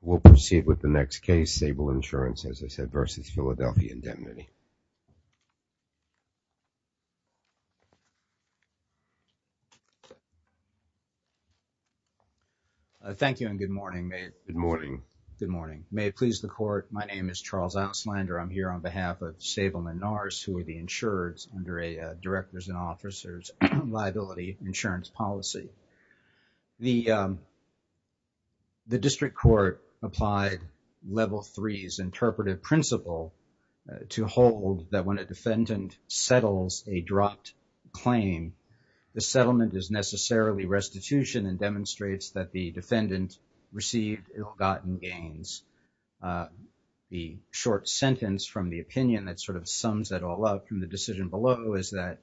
We'll proceed with the next case, Sabal Insurance Group. Sabal Insurance, as I said, versus Philadelphia Indemnity. Thank you and good morning. Good morning. Good morning. May it please the Court, my name is Charles Auslander. I'm here on behalf of Sabal Menars, who are the insurers under a Directors and Officers Liability Insurance Policy. The District Court applied Level 3's interpretive principle to hold that when a defendant settles a dropped claim, the settlement is necessarily restitution and demonstrates that the defendant received ill-gotten gains. The short sentence from the opinion that sort of sums it all up from the decision below is that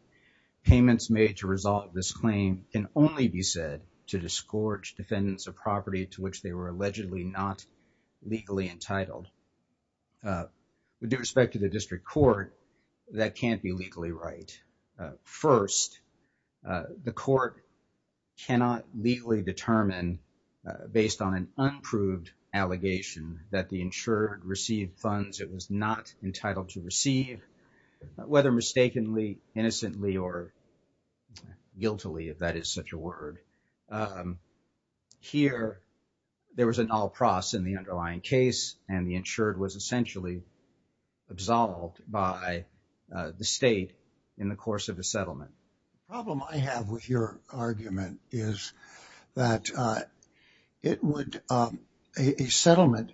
payments made to resolve this claim can only be said to disgorge defendants of property to which they were allegedly not legally entitled. With respect to the District Court, that can't be legally right. First, the Court cannot legally determine based on an unproved allegation that the insurer had received funds it was not entitled to receive, whether mistakenly, innocently, or guiltily, if that is such a word. Here there was an all-pros in the underlying case and the insured was essentially absolved by the state in the course of the settlement. The problem I have with your argument is that a settlement,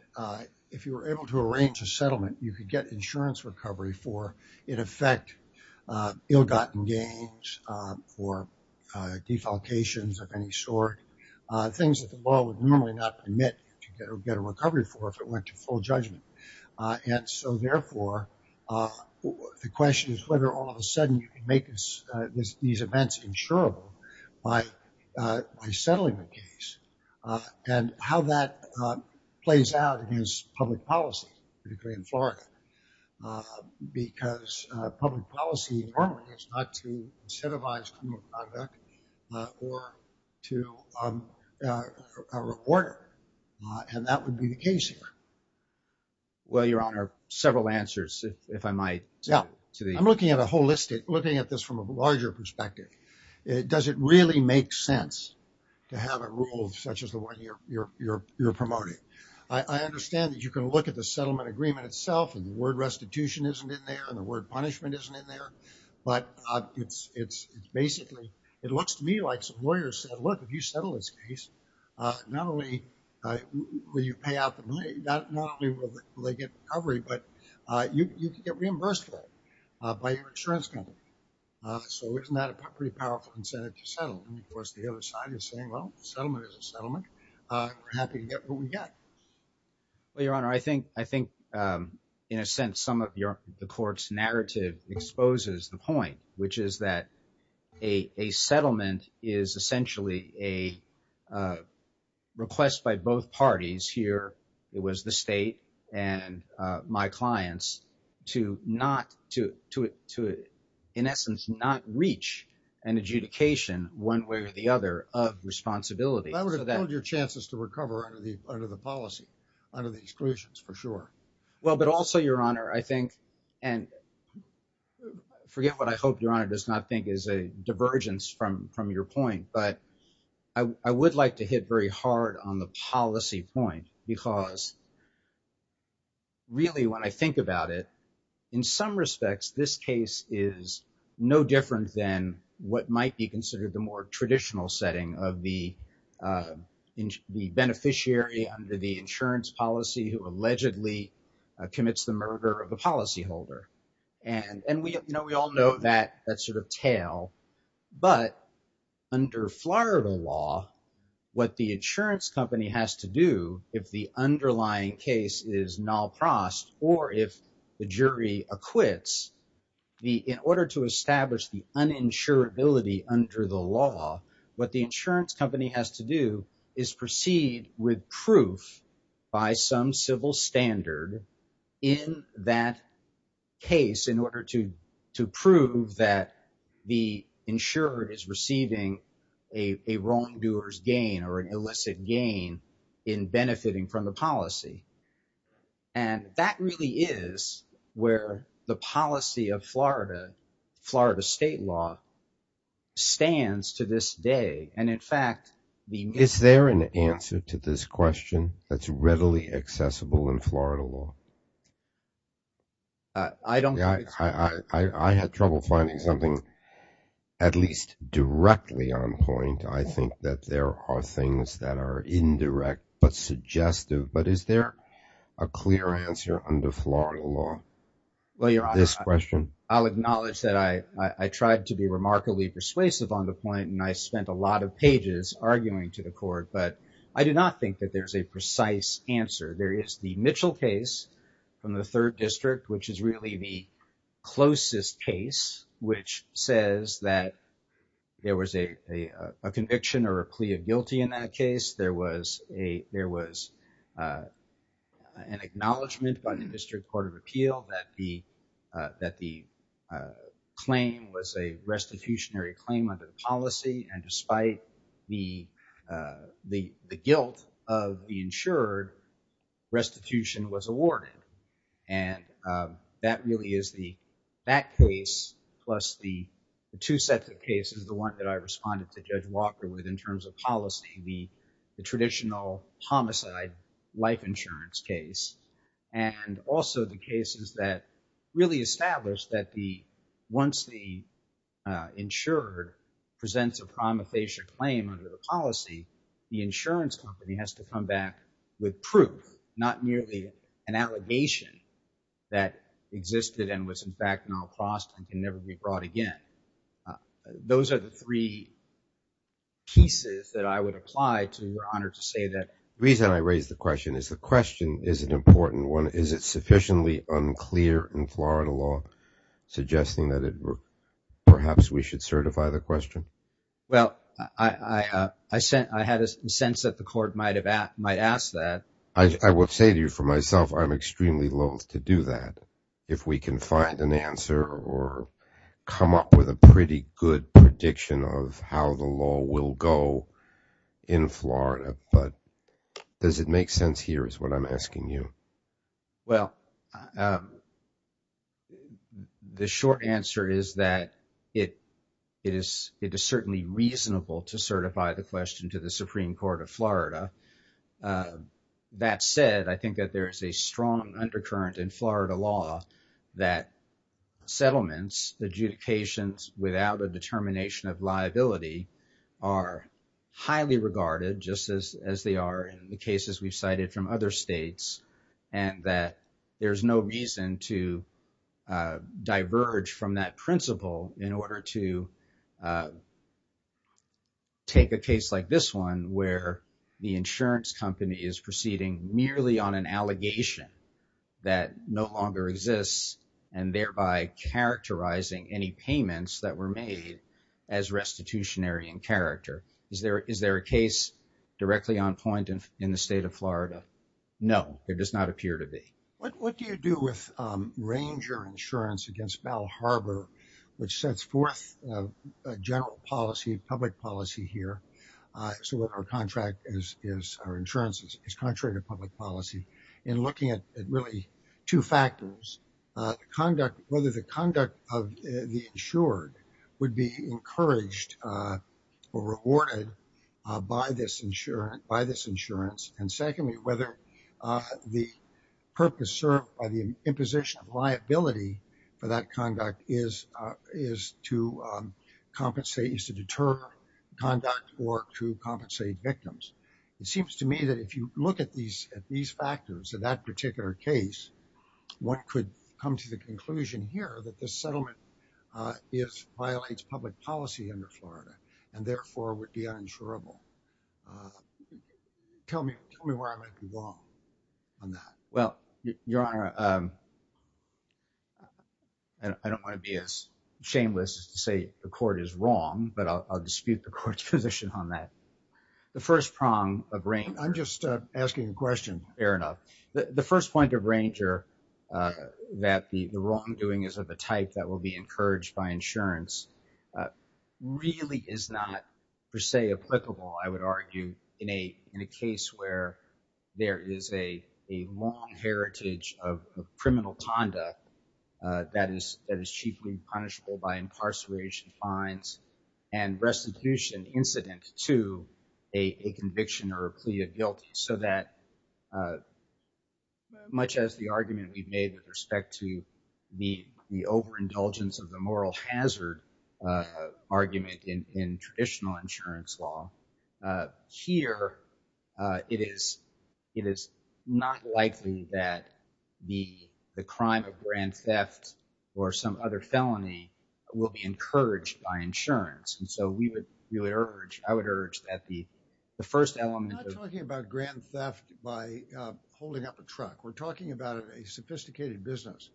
if you were able to arrange a settlement, you could get insurance recovery for, in effect, ill-gotten gains for defalcations of any sort, things that the law would normally not permit to get a recovery for if it went to full judgment. And so, therefore, the question is whether all of a sudden you can make these events insurable by settling the case and how that plays out against public policy, particularly in Florida, because public policy normally is not to incentivize criminal conduct or to reward it, and that would be the case here. Well, Your Honor, several answers, if I might. Yeah. I'm looking at a holistic, looking at this from a larger perspective. Does it really make sense to have a rule such as the one you're promoting? I understand that you can look at the settlement agreement itself and the word restitution isn't in there and the word punishment isn't in there, but it's basically, it looks to me like some lawyers said, look, if you settle this case, not only will you pay out the money, not only will they get recovery, but you can get reimbursed for it by your insurance company. So isn't that a pretty powerful incentive to settle? And of course, the other side is saying, well, the settlement is a settlement. We're happy to get what we get. Well, Your Honor, I think, in a sense, some of the court's narrative exposes the point, which is that a settlement is essentially a request by both parties here, it was the state and my clients, to not, to in essence, not reach an adjudication one way or the other of responsibility. That would impede your chances to recover under the policy, under the exclusions, for sure. Well, but also, Your Honor, I think, and forget what I hope Your Honor does not think is a divergence from your point, but I would like to hit very hard on the policy point because really, when I think about it, in some respects, this case is no different than what might be considered the more traditional setting of the beneficiary under the insurance policy who allegedly commits the murder of the policyholder. And we all know that sort of tale. But under Florida law, what the insurance company has to do, if the underlying case is nalprost, or if the jury acquits, in order to establish the uninsurability under the law, what the insurance company has to do is proceed with proof by some civil standard in that case in order to prove that the insurer is receiving a wrongdoer's gain or an illicit gain in benefiting from the policy. And that really is where the policy of Florida, Florida state law, stands to this day. And in fact, the- Is there an answer to this question that's readily accessible in Florida law? I don't- I had trouble finding something at least directly on point. I think that there are things that are indirect, but suggestive. But is there a clear answer under Florida law to this question? Well, Your Honor, I'll acknowledge that I tried to be remarkably persuasive on the point, and I spent a lot of pages arguing to the court. But I do not think that there's a precise answer. There is the Mitchell case from the third district, which is really the closest case, which says that there was a conviction or a plea of guilty in that case. There was a, there was an acknowledgement by the district court of appeal that the, that the claim was a restitutionary claim under the policy. And despite the guilt of the insured, restitution was awarded. And that really is the, that case plus the two sets of cases, the one that I responded to Judge Walker with in terms of policy. The traditional homicide life insurance case. And also the cases that really established that the, once the insured presents a prima facie claim under the policy, the insurance company has to come back with proof, not merely an allegation that existed and was in fact not crossed and can never be brought again. Uh, those are the three pieces that I would apply to your honor to say that reason I raised the question is the question is an important one. Is it sufficiently unclear in Florida law suggesting that it, perhaps we should certify the question? Well, I, uh, I sent, I had a sense that the court might've asked, might ask that. I will say to you for myself, I'm extremely loath to do that. If we can find an answer or come up with a pretty good prediction of how the law will go in Florida, but does it make sense here is what I'm asking you? Well, um, the short answer is that it is, it is certainly reasonable to certify the question to the Supreme court of Florida. Uh, that said, I think that there is a strong undercurrent in Florida law that settlements, adjudications without a determination of liability are highly regarded just as, as they are in the cases we've cited from other states and that there's no reason to, uh, diverge from that principle in order to, uh, take a case like this one where the insurance company is proceeding merely on an allegation that no longer exists and thereby characterizing any payments that were made as restitutionary in character. Is there, is there a case directly on point in the state of Florida? No, there does not appear to be. What, what do you do with, um, Ranger insurance against Bell Harbor, which sets forth a general policy, public policy here. Uh, so what our contract is, is our insurance is contrary to public policy and looking at it really two factors, uh, conduct, whether the conduct of the insured would be encouraged, uh, or rewarded, uh, by this insurance, by this insurance. And secondly, whether, uh, the purpose served by the imposition of liability for that conduct is, uh, is to, um, compensate used to deter conduct or to compensate victims. It seems to me that if you look at these, at these factors of that particular case, one could come to the conclusion here that the settlement, uh, is violates public policy under Florida and therefore would be uninsurable. Uh, tell me, tell me where I might be wrong on that. Well, your honor, um, and I don't want to be as shameless as to say the court is wrong, but I'll, I'll dispute the court's position on that. The first prong of range. I'm just, uh, asking a question. Fair enough. The first point of Ranger, uh, that the wrongdoing is of the type that will be encouraged by insurance, uh, really is not per se applicable. I would argue in a, in a case where there is a, a long heritage of criminal conduct, uh, that is, that is cheaply punishable by incarceration fines and restitution incident to a conviction or a plea of guilty. So that, uh, much as the argument we've made with respect to the, the overindulgence of the moral hazard, uh, argument in, in traditional insurance law, uh, here, uh, it is, it is not likely that the, the crime of grand theft or some other felony will be encouraged by insurance. And so we would really urge, I would urge that the, the first element of talking about grand theft by, uh, holding up a truck, we're talking about a sophisticated business,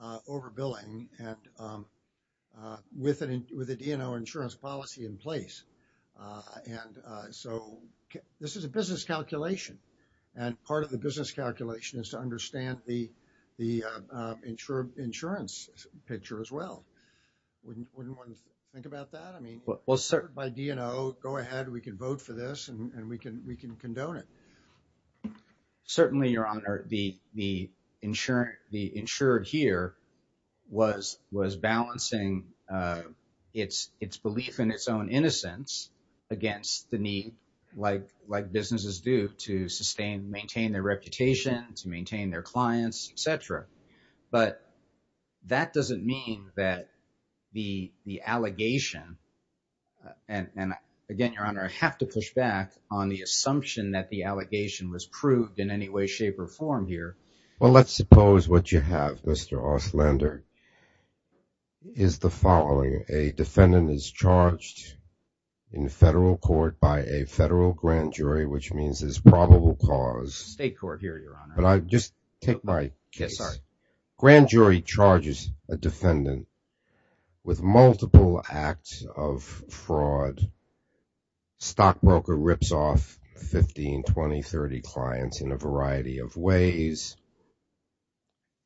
uh, over billing and, um, uh, with an, with a DNR insurance policy in place. Uh, and, uh, so this is a business calculation and part of the business calculation is to understand the, the, uh, uh, insurer insurance picture as well. Wouldn't, wouldn't want to think about that. I mean, by DNO, go ahead, we can vote for this and we can, we can condone it. Certainly your honor, the, the insurance, the insured here was, was balancing, uh, it's, it's belief in its own innocence against the need, like, like businesses do to sustain, maintain their reputation, to maintain their clients, et cetera. But that doesn't mean that the, the allegation, uh, and, and again, your honor, I have to push back on the assumption that the allegation was proved in any way, shape or form here. Well, let's suppose what you have, Mr. Auslander, is the following. A defendant is charged in federal court by a federal grand jury, which means there's probable cause. State court here, your honor. But I just take my case. Grand jury charges a defendant with multiple acts of fraud. Stockbroker rips off 15, 20, 30 clients in a variety of ways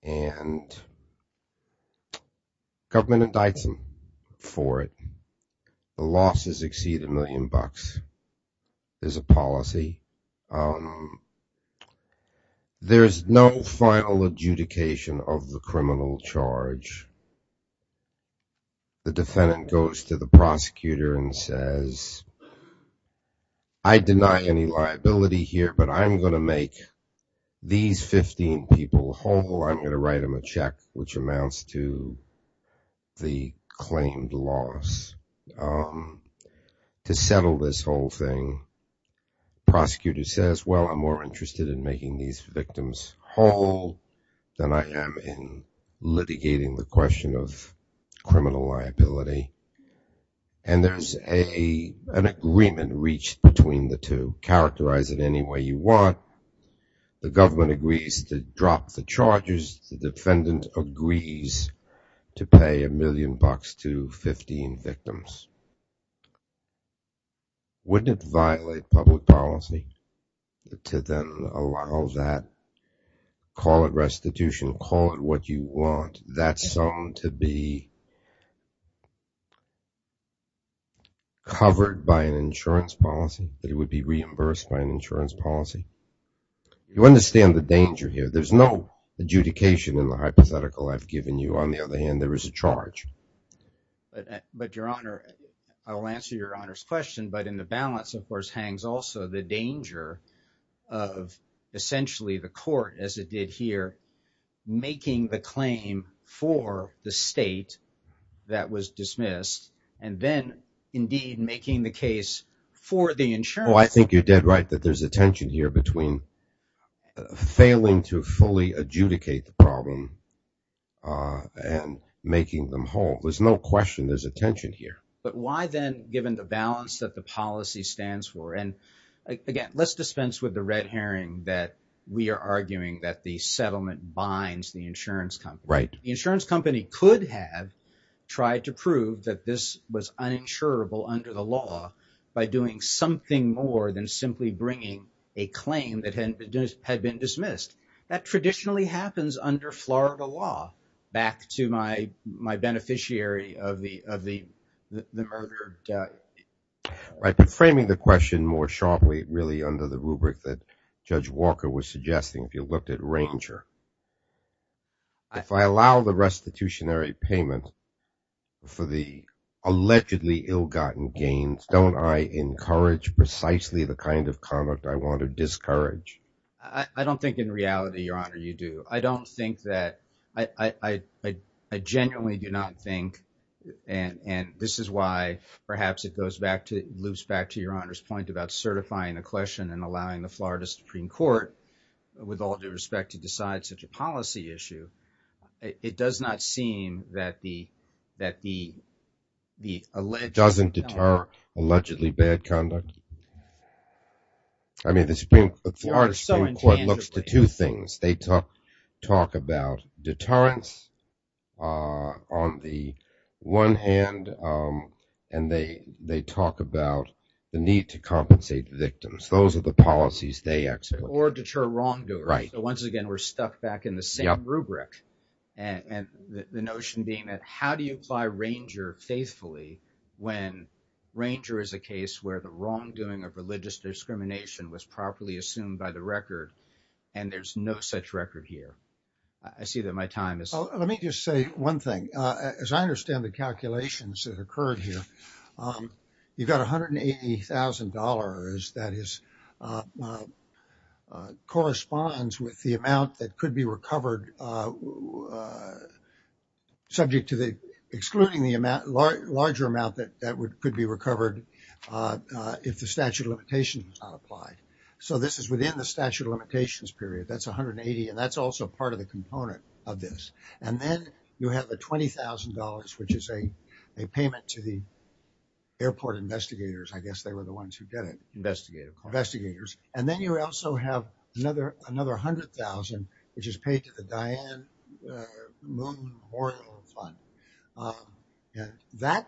and government indicts them for it. The losses exceed a million bucks is a policy. Um, there's no final adjudication of the criminal charge. The defendant goes to the prosecutor and says, I deny any liability here, but I'm going to make these 15 people whole. I'm going to write them a check, which amounts to the claimed loss, um, to settle this whole thing. Prosecutor says, well, I'm more interested in making these victims whole than I am in litigating the question of an agreement reached between the two. Characterize it any way you want. The government agrees to drop the charges. The defendant agrees to pay a million bucks to 15 victims. Wouldn't it violate public policy to then allow that, call it restitution, call it what you want. That's something to be covered by an insurance policy, that it would be reimbursed by an insurance policy. You understand the danger here. There's no adjudication in the hypothetical I've given you. On the other hand, there is a charge. But your honor, I will answer your honor's question. But in the balance, of course, hangs also the danger of essentially the court as it did here, making the claim for the state that was dismissed and then indeed making the case for the insurance. Oh, I think you're dead right that there's a tension here between failing to fully adjudicate the problem, uh, and making them whole. There's no question there's a tension here. But why then, given the balance that the policy stands for, and again, let's dispense with the red herring that we are arguing that the settlement binds the insurance company. The insurance company could have tried to prove that this was uninsurable under the law by doing something more than simply bringing a claim that had been dismissed. That traditionally happens under Florida law. Back to my beneficiary of the murder. Yeah, right. But framing the question more sharply, really, under the rubric that Judge Walker was suggesting, if you looked at Ranger, if I allow the restitutionary payment for the allegedly ill-gotten gains, don't I encourage precisely the kind of conduct I want to discourage? I don't think in reality, your honor, I don't think that I, I, I, I genuinely do not think, and, and this is why perhaps it goes back to loops back to your honor's point about certifying a question and allowing the Florida Supreme Court with all due respect to decide such a policy issue. It does not seem that the, that the, the alleged doesn't deter allegedly bad conduct. I mean, the Supreme Court looks to two things. They talk, talk about deterrence on the one hand, and they, they talk about the need to compensate the victims. Those are the policies they actually- Or deter wrongdoers. Right. So once again, we're stuck back in the same rubric and the notion being that how do you apply Ranger faithfully when Ranger is a case where the wrongdoing of religious discrimination was properly assumed by the record and there's no such record here. I see that my time is- Let me just say one thing. As I understand the calculations that occurred here, you've got $180,000 that is, corresponds with the amount that could be recovered subject to the excluding the amount, larger amount that, that would, could be recovered if the statute of limitations was not applied. So this is within the statute of limitations period. That's 180, and that's also part of the component of this. And then you have the $20,000, which is a payment to the airport investigators. I guess they were the ones who did it. Investigators. Investigators. And then you also have another, another 100,000, which is paid to the Diane Moon Memorial Fund. That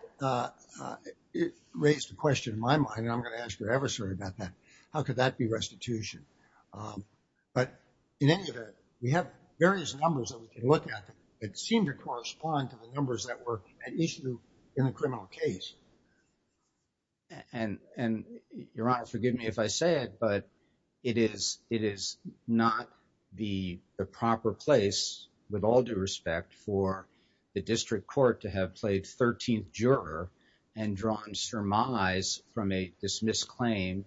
raised a question in my mind, and I'm going to ask your adversary about that. How could that be restitution? But in any event, we have various numbers that we can look at that seem to correspond to the numbers that were at issue in a criminal case. And, and Your Honor, forgive me if I say it, but it is, it is not the proper place, with all due respect, for the district court to have played 13th juror and drawn surmise from a dismissed claim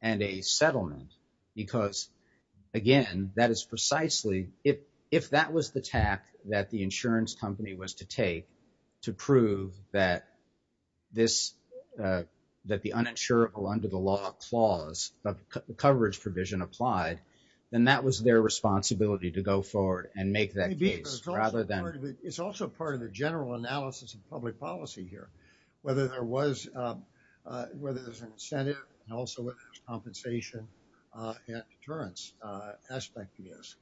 and a settlement. Because again, that is precisely if, if that was the tack that the insurance company was to take to prove that this, that the uninsurable under the law clause, but the coverage provision applied, then that was their responsibility to go forward and make that case rather than... It's also part of the general analysis of public policy here, whether there was, whether there's an incentive and also compensation at deterrence aspect is.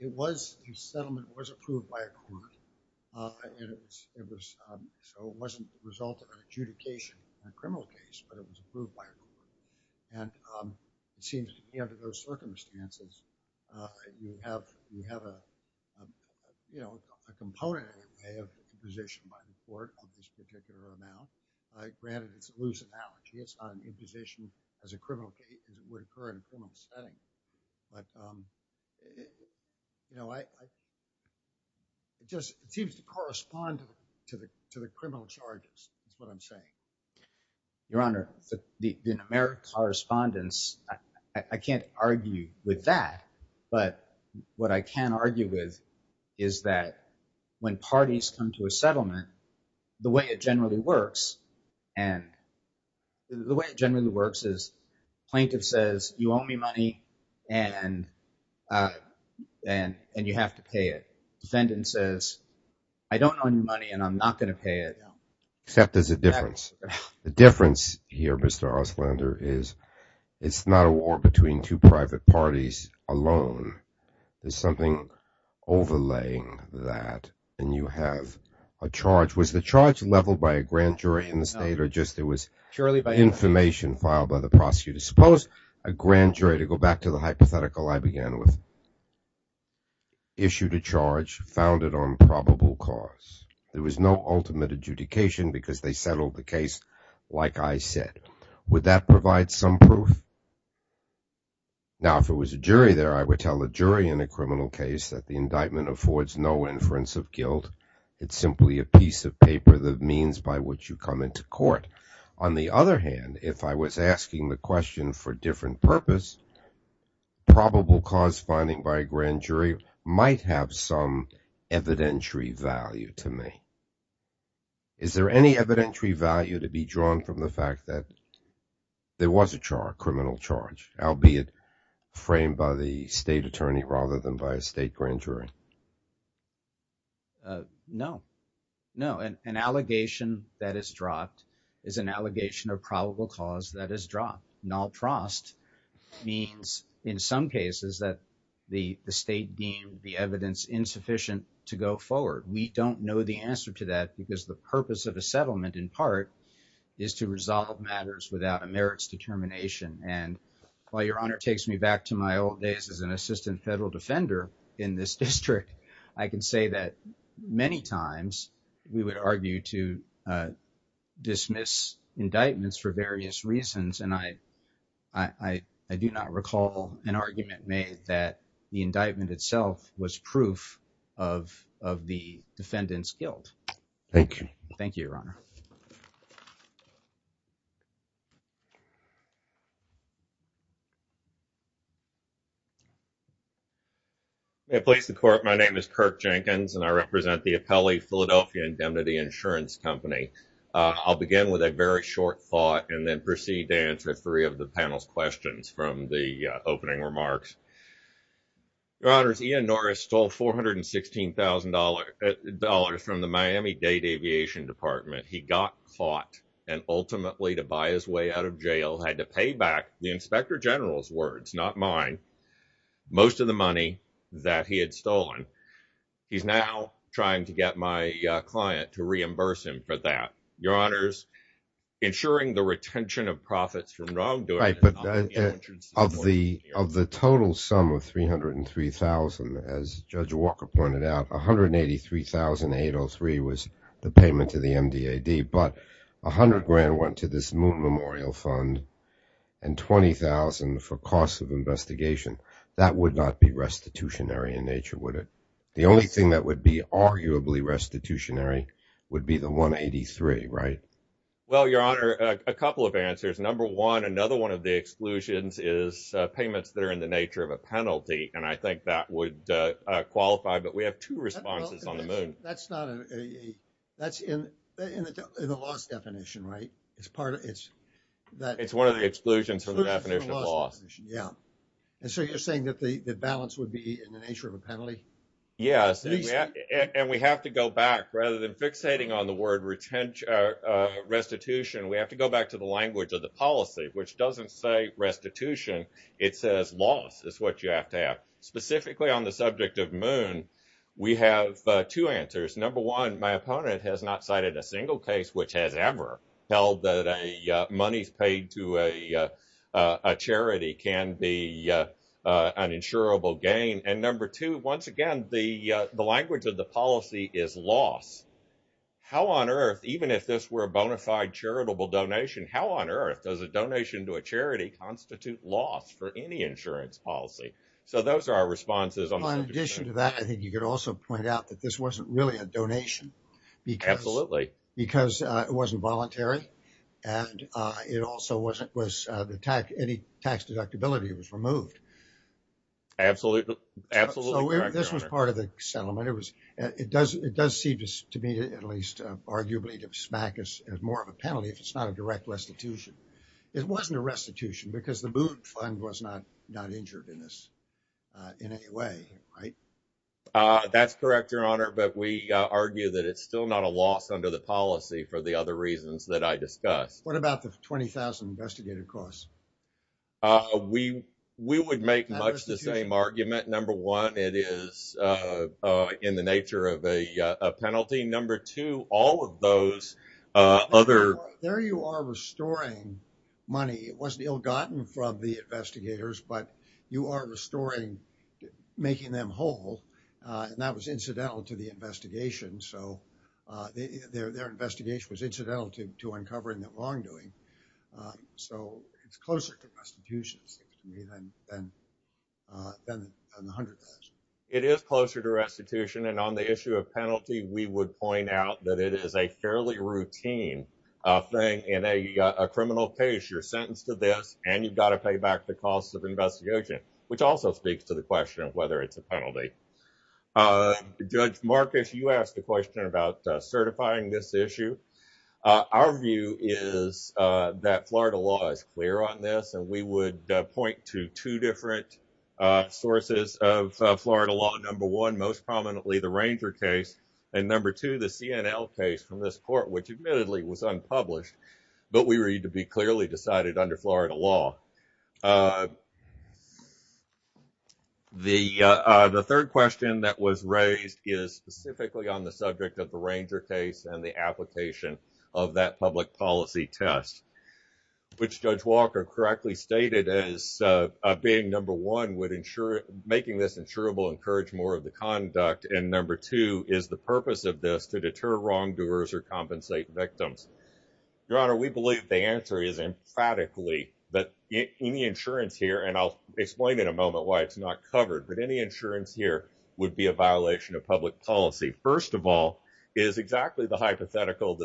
It was, the settlement was approved by a court, and it was, it was, so it wasn't the result of an adjudication in a criminal case, but it was approved by a court. And it seems to me under those circumstances, you have, you have a, you know, a component in a way of imposition by the court on this particular amount. Granted, it's a loose analogy. It's not an imposition as a It just seems to correspond to the, to the criminal charges is what I'm saying. Your Honor, the, the numeric correspondence, I can't argue with that, but what I can argue with is that when parties come to a settlement, the way it generally works and the way it generally works is plaintiff says, you owe me money and, and, and you have to pay it. Defendant says, I don't owe you money and I'm not going to pay it. Except there's a difference. The difference here, Mr. Oslander, is it's not a war between two private parties alone. There's something overlaying that and you have a charge. Was the charge leveled by a grand jury in the state or just there was information filed by the prosecutor? Suppose a grand jury, to go back to the hypothetical I began with, issued a charge founded on probable cause. There was no ultimate adjudication because they settled the case like I said. Would that provide some proof? Now, if it was a jury there, I would tell the jury in a criminal case that the indictment affords no inference of guilt. It's simply a piece of paper that means by which you come into court. On the other hand, if I was asking the question for different purpose, probable cause finding by a grand jury might have some evidentiary value to me. Is there any evidentiary value to be drawn from the fact that there was a charge, criminal charge, albeit framed by the state attorney rather than by a state grand jury? No. No. An allegation that is dropped is an allegation of probable cause that is dropped. Null trust means in some cases that the state deemed the evidence insufficient to go forward. We don't know the answer to that because the purpose of a settlement in part is to resolve matters without a merits determination. And while your honor takes me back to my old days as an assistant federal defender in this district, I can say that many times we would argue to dismiss indictments for various reasons and I do not recall an argument made that the indictment itself was proof of the defendant's guilt. Thank you. Thank you, your honor. May I place the court? My name is Kirk Jenkins and I represent the Appellee Philadelphia Indemnity Insurance Company. I'll begin with a very short thought and then proceed to answer three of the panel's questions from the opening remarks. Your honors, Ian Norris stole $416,000 dollars from the Miami-Dade Aviation Department. He got caught and ultimately to buy his way out of jail, had to pay back the inspector general's words, not mine, most of the money that he had stolen. He's now trying to get my client to reimburse him for that. Your honors, ensuring the retention of profits from wrongdoing. Of the total sum of $303,000, as Judge Walker pointed out, $183,803 was the payment to the MDAD, but $100,000 went to this Moon Memorial Fund and $20,000 for costs of investigation. That would not be restitutionary in nature, would it? The only thing that would be arguably restitutionary would be the $183,000, right? Well, your honor, a couple of answers. Number one, another one of the exclusions is payments that are in the nature of a penalty, and I think that would qualify, but we have two responses on the Moon. That's in the law's definition, right? It's one of the exclusions from the definition of law. Yeah, and so you're saying that the balance would be in the nature of a penalty? Yes, and we have to go back. Rather than fixating on the word restitution, we have to go back to language of the policy, which doesn't say restitution. It says loss is what you have to have. Specifically on the subject of Moon, we have two answers. Number one, my opponent has not cited a single case which has ever held that money paid to a charity can be an insurable gain. And number two, once again, the language of the policy is loss. How on earth, even if this were a bona fide charitable donation, how on earth does a donation to a charity constitute loss for any insurance policy? So those are our responses. In addition to that, I think you could also point out that this wasn't really a donation because it wasn't voluntary, and any tax deductibility was removed. Absolutely correct, your honor. So this was part of the settlement. It does seem to me, at least arguably, to smack us as more of a penalty if it's not a direct restitution. It wasn't a restitution because the Booth Fund was not injured in this in any way, right? That's correct, your honor. But we argue that it's still not a loss under the policy for the other reasons that I discussed. What about the 20,000 investigative costs? We would make much the same argument. Number one, it is in the nature of a penalty. Number two, all of those other... There you are restoring money. It wasn't ill-gotten from the investigators, but you are restoring, making them whole. And that was incidental to the investigation. So their investigation was incidental to uncovering the wrongdoing. So it's closer to restitution than the 100,000. It is closer to restitution. And on the issue of penalty, we would point out that it is a fairly routine thing in a criminal case. You're sentenced to this and you've got to pay back the costs of investigation, which also speaks to the question of whether it's a penalty. Judge Marcus, you asked a question about certifying this issue. Our view is that Florida law is clear on this, and we would point to two different sources of Florida law. Number one, most prominently the Ranger case, and number two, the CNL case from this court, which admittedly was unpublished, but we read to be clearly decided under Florida law. The third question that was raised is specifically on the subject of the Ranger case and the application of that public policy test, which Judge Walker correctly stated as being number one, making this insurable encouraged more of the conduct, and number two, is the purpose of this to deter wrongdoers or compensate victims. Your Honor, we believe the answer is emphatically that any insurance here, and I'll explain in a moment why it's not covered, but any insurance here would be a violation of public policy, first of all, is exactly the hypothetical.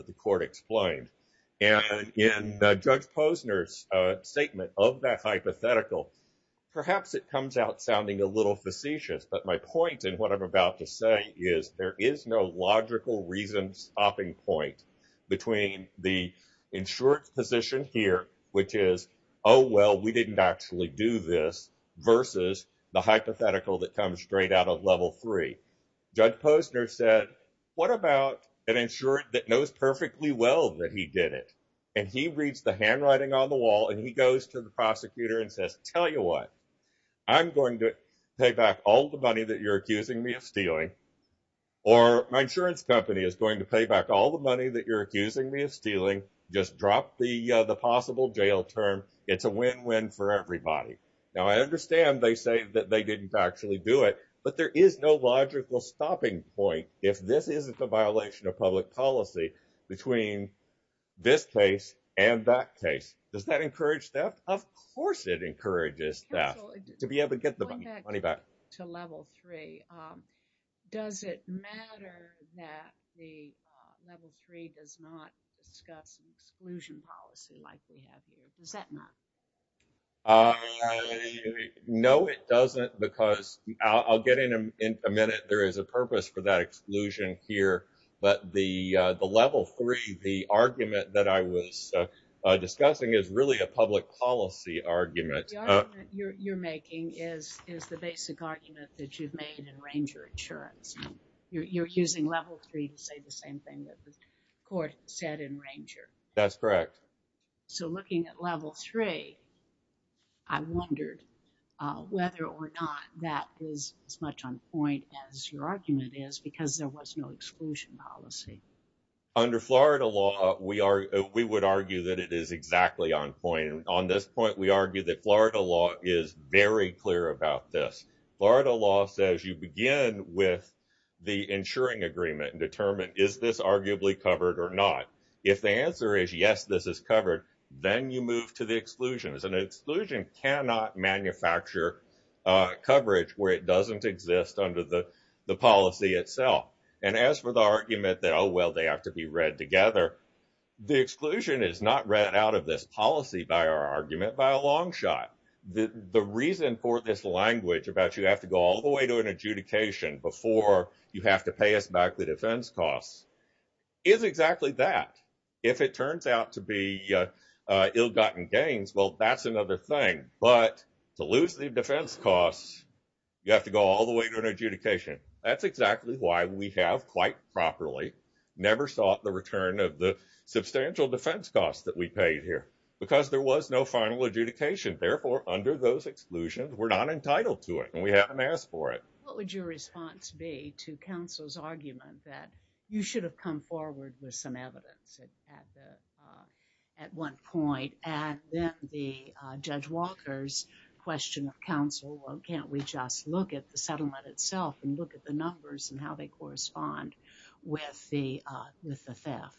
Perhaps it comes out sounding a little facetious, but my point and what I'm about to say is there is no logical reason stopping point between the insurance position here, which is, oh, well, we didn't actually do this, versus the hypothetical that comes straight out of level three. Judge Posner said, what about an insurance that knows perfectly well that he did it, and he reads the handwriting on the wall, and he goes to the prosecutor and says, tell you what, I'm going to pay back all the money that you're accusing me of stealing, or my insurance company is going to pay back all the money that you're accusing me of stealing, just drop the possible jail term. It's a win-win for everybody. Now, I understand they say that they didn't actually do it, but there is no logical stopping point if this isn't a violation of public policy between this case and that case. Does that encourage theft? Of course it encourages theft, to be able to get the money back. Going back to level three, does it matter that the level three does not discuss exclusion policy like we have here? Does that matter? No, it doesn't, because I'll get in a minute, there is a purpose for that exclusion here, but the level three, the argument that I was discussing is really a public policy argument. The argument you're making is the basic argument that you've made in Ranger Insurance. You're using level three to say the same thing that the court said in Ranger. That's correct. So, looking at level three, I wondered whether or not that was as much on point as your argument is, because there was no exclusion policy. Under Florida law, we would argue that it is exactly on point. On this point, we argue that Florida law is very clear about this. Florida law says you begin with the insuring agreement and determine is this arguably covered or not. If the answer is yes, this is covered, then you move to the exclusion. An exclusion cannot manufacture coverage where it doesn't exist under the policy itself. And as for the argument that, oh, well, they have to be read together, the exclusion is not read out of this policy by our argument by a long shot. The reason for this language about you have to go all the way to an adjudication before you have to pay us back the defense costs is exactly that. If it turns out to be ill-gotten gains, well, that's another thing. But to lose the defense costs, you have to go all the way to an adjudication. That's exactly why we have quite properly never sought the return of the substantial defense costs that we paid here, because there was no final adjudication. Therefore, under those exclusions, we're not entitled to it and we haven't asked for it. What would your response be to counsel's argument that you should have come forward with some evidence at one point? And then the Judge Walker's question of counsel, well, can't we just look at the settlement itself and look at the numbers and how they correspond with the theft?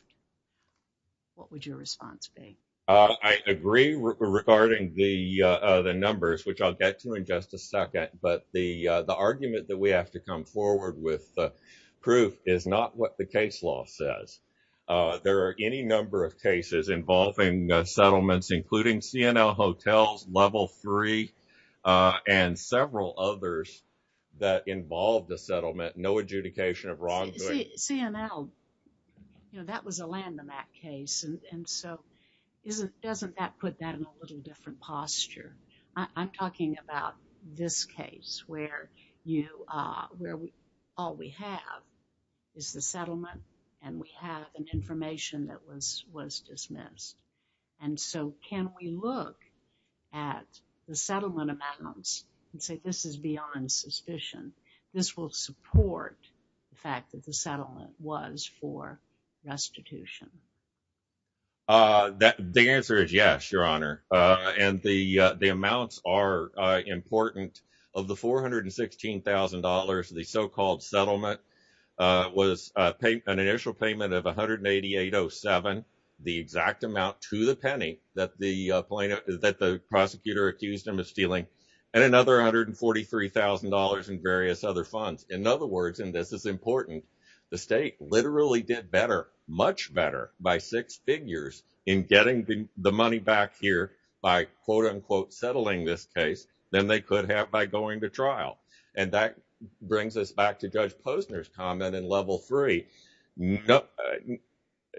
What would your response be? I agree regarding the numbers, which I'll get to in just a second. But the argument that we have to come forward with the proof is not what the case law says. There are any number of cases involving settlements, including C&L Hotels, Level 3, and several others that involve the settlement, no adjudication of wrongdoing. C&L, you know, that was a land of that case. And so, doesn't that put that in a little different posture? I'm talking about this case where all we have is the settlement and we have an information that was dismissed. And so, can we look at the settlement amounts and say, this is beyond suspicion, this will support the fact that the settlement was for restitution? The answer is yes, Your Honor. And the amounts are important. Of the $416,000, the so-called settlement was an initial payment of $188,007, the exact amount to the penny that the prosecutor accused him of stealing, and another $143,000 in various other funds. In other words, and this is important, the state literally did better, much better by six figures in getting the money back here by, quote unquote, settling this case than they could have by going to trial. And that brings us back to Judge Posner's comment in Level 3.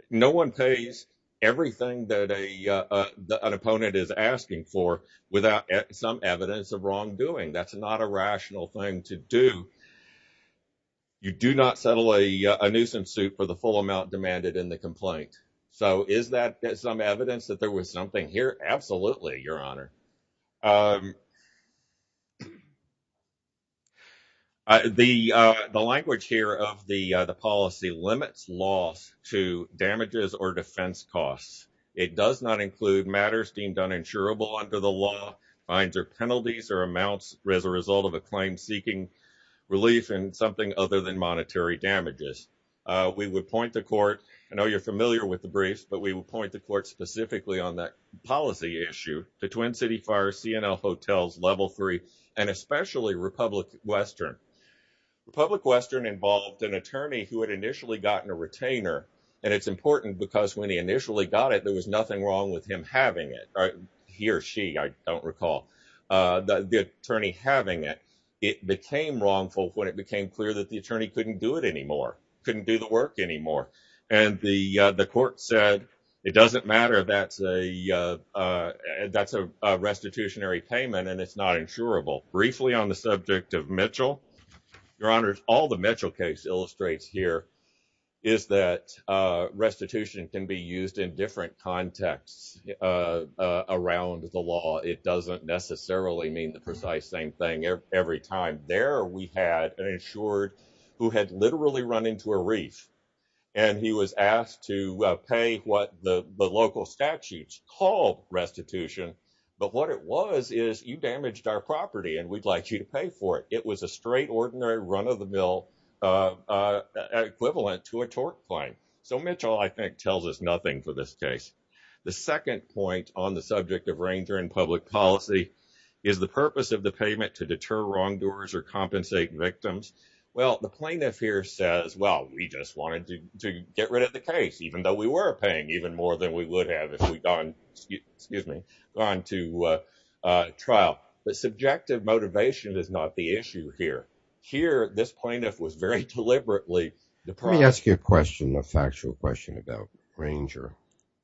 No one pays everything that an opponent is asking for without some evidence of wrongdoing. That's not a rational thing to do. You do not settle a nuisance suit for the full amount demanded in the complaint. So, is that some evidence that there was something here? Absolutely, Your Honor. The language here of the policy limits loss to damages or defense costs. It does not include matters deemed uninsurable under the law, fines or penalties, or amounts as a result of a claim seeking relief in something other than monetary damages. We would point the court, I know you're familiar with the briefs, but we would point the court specifically on that policy issue, the Twin City Fire, C&L Hotels, Level 3, and especially Republic Western. Republic Western involved an attorney who had initially gotten a retainer, and it's important because when he initially got it, there was nothing wrong with him having it. He or she, I don't recall, the attorney having it. It became wrongful when it became clear that the attorney couldn't do it anymore, couldn't do the work anymore. And the court said, it doesn't matter, that's a restitutionary payment and it's not insurable. Briefly on the subject of Mitchell, Your Honor, all the Mitchell case illustrates here is that restitution can be used in different contexts around the law. It doesn't necessarily mean the precise same thing every time. There we had an insured who had literally run into a reef and he was asked to pay what the local statutes call restitution, but what it was is you damaged our property and we'd like you to pay for it. It was a straight, ordinary run of the mill equivalent to a tort claim. So Mitchell, I think, tells us nothing for this case. The second point on the subject of Ranger and public policy is the purpose of the payment to deter wrongdoers or compensate victims. Well, the plaintiff here says, well, we just wanted to get rid of the case, even though we were paying even more than we would have if we'd gone to trial. But subjective motivation is not the issue here. Here, this Ranger,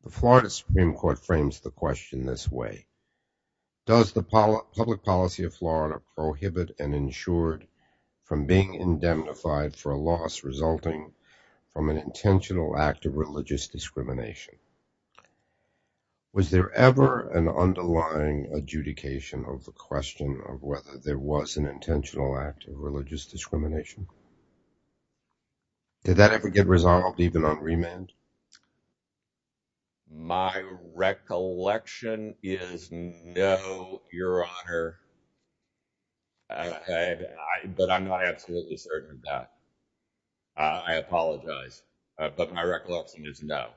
the Florida Supreme Court frames the question this way. Does the public policy of Florida prohibit an insured from being indemnified for a loss resulting from an intentional act of religious discrimination? Was there ever an underlying adjudication of the question of whether there was an intentional act of religious discrimination? Did that ever get resolved even on trial? My recollection is no, Your Honor. Okay, but I'm not absolutely certain of that. I apologize, but my recollection is no.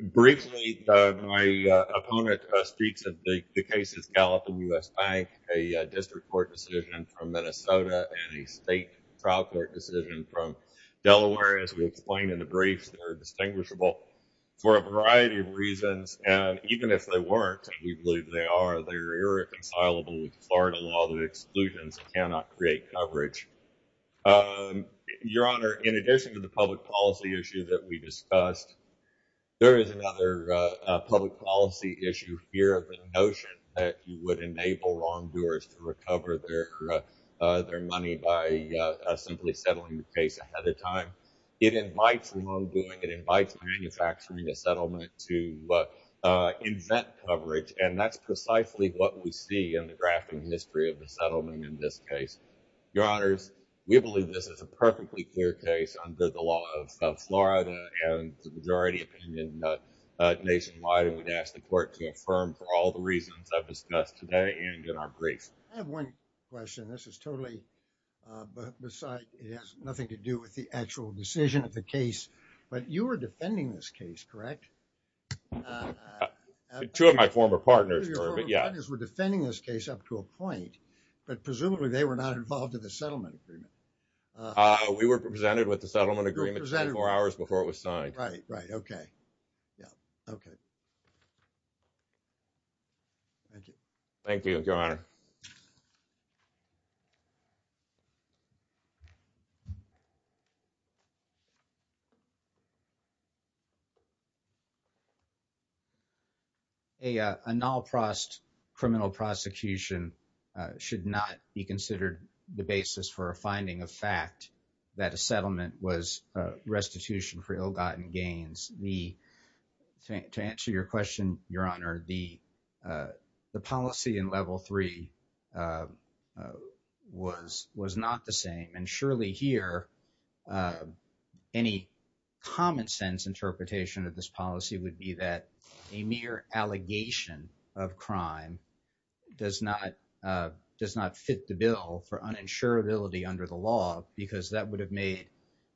Briefly, my opponent speaks of the cases Gallup and U.S. Bank, a district court decision from Minnesota and a state trial court decision from Delaware, as we explained in the briefs that are distinguishable for a variety of reasons. And even if they weren't, and we believe they are, they're irreconcilable with Florida law that exclusions cannot create coverage. Your Honor, in addition to the public policy issue that we discussed, there is another public policy issue here of the notion that you would enable wrongdoers to recover their money by simply settling the case ahead of time. It invites wrongdoing. It invites manufacturing a settlement to invent coverage, and that's precisely what we see in the drafting history of the settlement in this case. Your Honors, we believe this is a perfectly clear case under the law of Florida and the majority opinion nationwide, and we'd ask the I have one question. This is totally beside, it has nothing to do with the actual decision of the case, but you were defending this case, correct? Two of my former partners were, but yeah. Two of your former partners were defending this case up to a point, but presumably they were not involved in the settlement agreement. We were presented with the settlement agreement 24 hours before it was signed. Right, right, okay. Yeah, okay. Thank you. Thank you, Your Honor. A non-criminal prosecution should not be considered the basis for a finding of fact that a settlement was a restitution for ill-gotten gains. The, to answer your question, Your Honor, the policy in Level 3 was not the same, and surely here any common sense interpretation of this policy would be that a mere allegation of crime does not fit the bill for uninsurability under the law because that would have made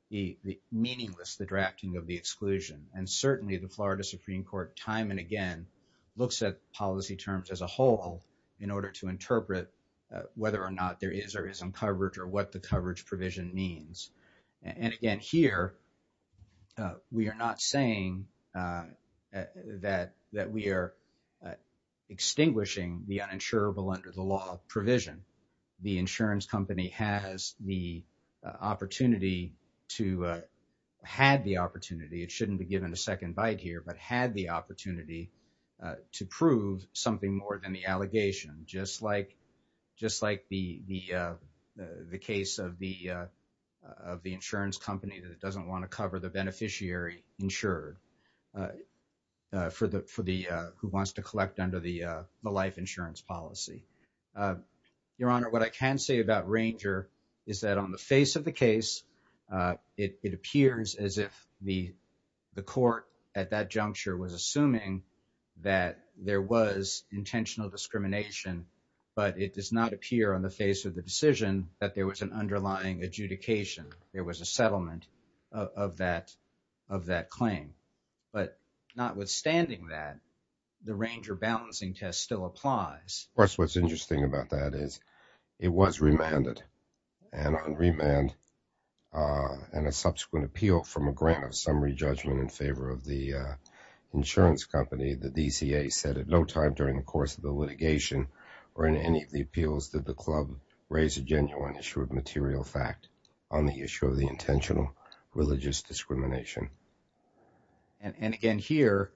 the meaningless, the drafting of the exclusion. And certainly the Florida Supreme Court time and again looks at policy terms as a whole in order to interpret whether or not there is or isn't coverage or what the coverage provision means. And again, here we are not saying that we are extinguishing the uninsurable under the law provision. The insurance company has the opportunity, it shouldn't be given a second bite here, but had the opportunity to prove something more than the allegation just like the case of the insurance company that doesn't want to cover the beneficiary insured for the, who wants to collect under the life insurance policy. Your Honor, what I can say about Ranger is that on the face of the case, it appears as if the court at that juncture was assuming that there was intentional discrimination, but it does not appear on the face of the decision that there was an underlying adjudication. There was a settlement of that claim. But notwithstanding that, the Ranger balancing test still applies. Of course, what's interesting about that is it was remanded. And on remand and a subsequent appeal from a grant of summary judgment in favor of the insurance company, the DCA said at no time during the course of the litigation or in any of the appeals that the club raised a genuine issue of material fact on the issue of the intentional religious discrimination. And again, here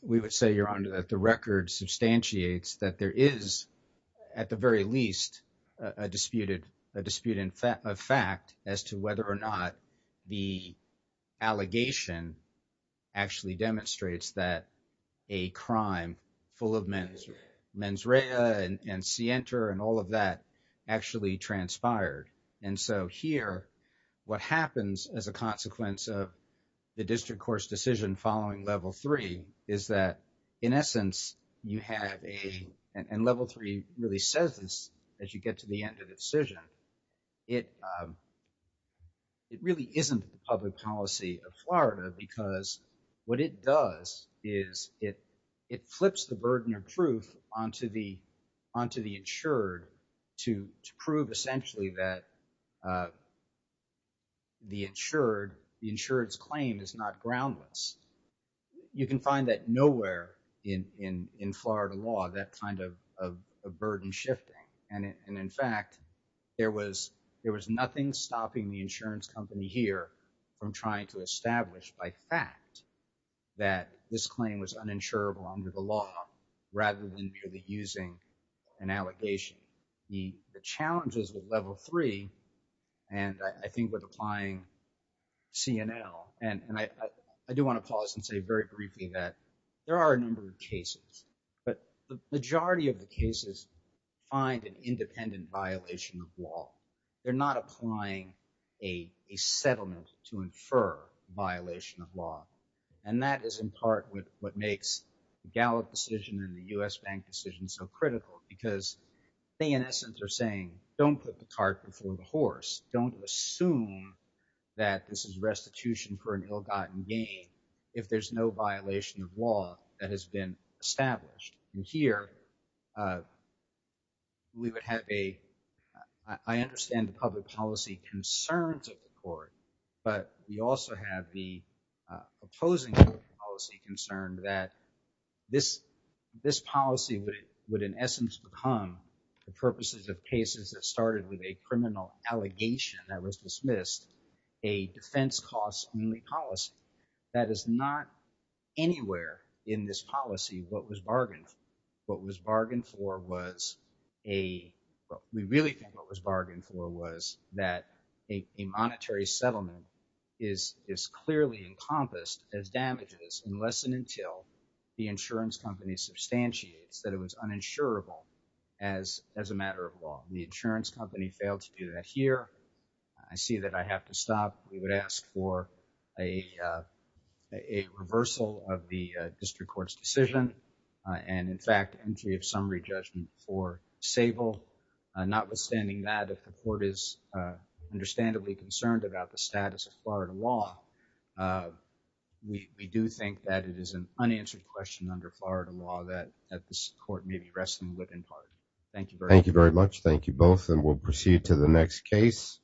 we would say, Your Honor, that the record substantiates that there is at the very least a disputed fact as to whether or not the allegation actually demonstrates that a crime full of mens rea and scienter and all of that actually transpired. And so here, what happens as a consequence of the district court's decision following level three is that in essence, you have a and level three really says this as you get to the end of the decision. It really isn't the public policy of Florida because what it does is it flips the burden of truth onto the insured to prove essentially that the insured insurance claim is not groundless. You can find that nowhere in Florida law that kind of burden shifting. And in fact, there was nothing stopping the insurance company here from trying to establish by fact that this claim was uninsurable under the law rather than merely using an allegation. The challenges with level three and I think with applying CNL and I do want to pause and say very briefly that there are a number of cases, but the majority of the cases find an independent violation of law. They're not applying a settlement to infer violation of law. And that is in part with what makes the Gallup decision and the U.S. bank decision so critical because they in essence are saying, don't put the cart before the horse. Don't assume that this is restitution for an ill-gotten gain if there's no violation of law that has been established. And here we would have a, I understand the public policy concerns of the court, but we also have the opposing policy concern that this policy would in essence become the purposes of cases that started with a criminal allegation that was dismissed, a defense costs only policy. That is not anywhere in this policy what was bargained a monetary settlement is clearly encompassed as damages unless and until the insurance company substantiates that it was uninsurable as a matter of law. The insurance company failed to do that here. I see that I have to stop. We would ask for a reversal of the district court's decision. And in fact, entry of summary judgment for Sable, not withstanding that if the court is understandably concerned about the status of Florida law, we do think that it is an unanswered question under Florida law that at this court may be wrestling with in part. Thank you. Thank you very much. Thank you both. And we'll proceed to the next case.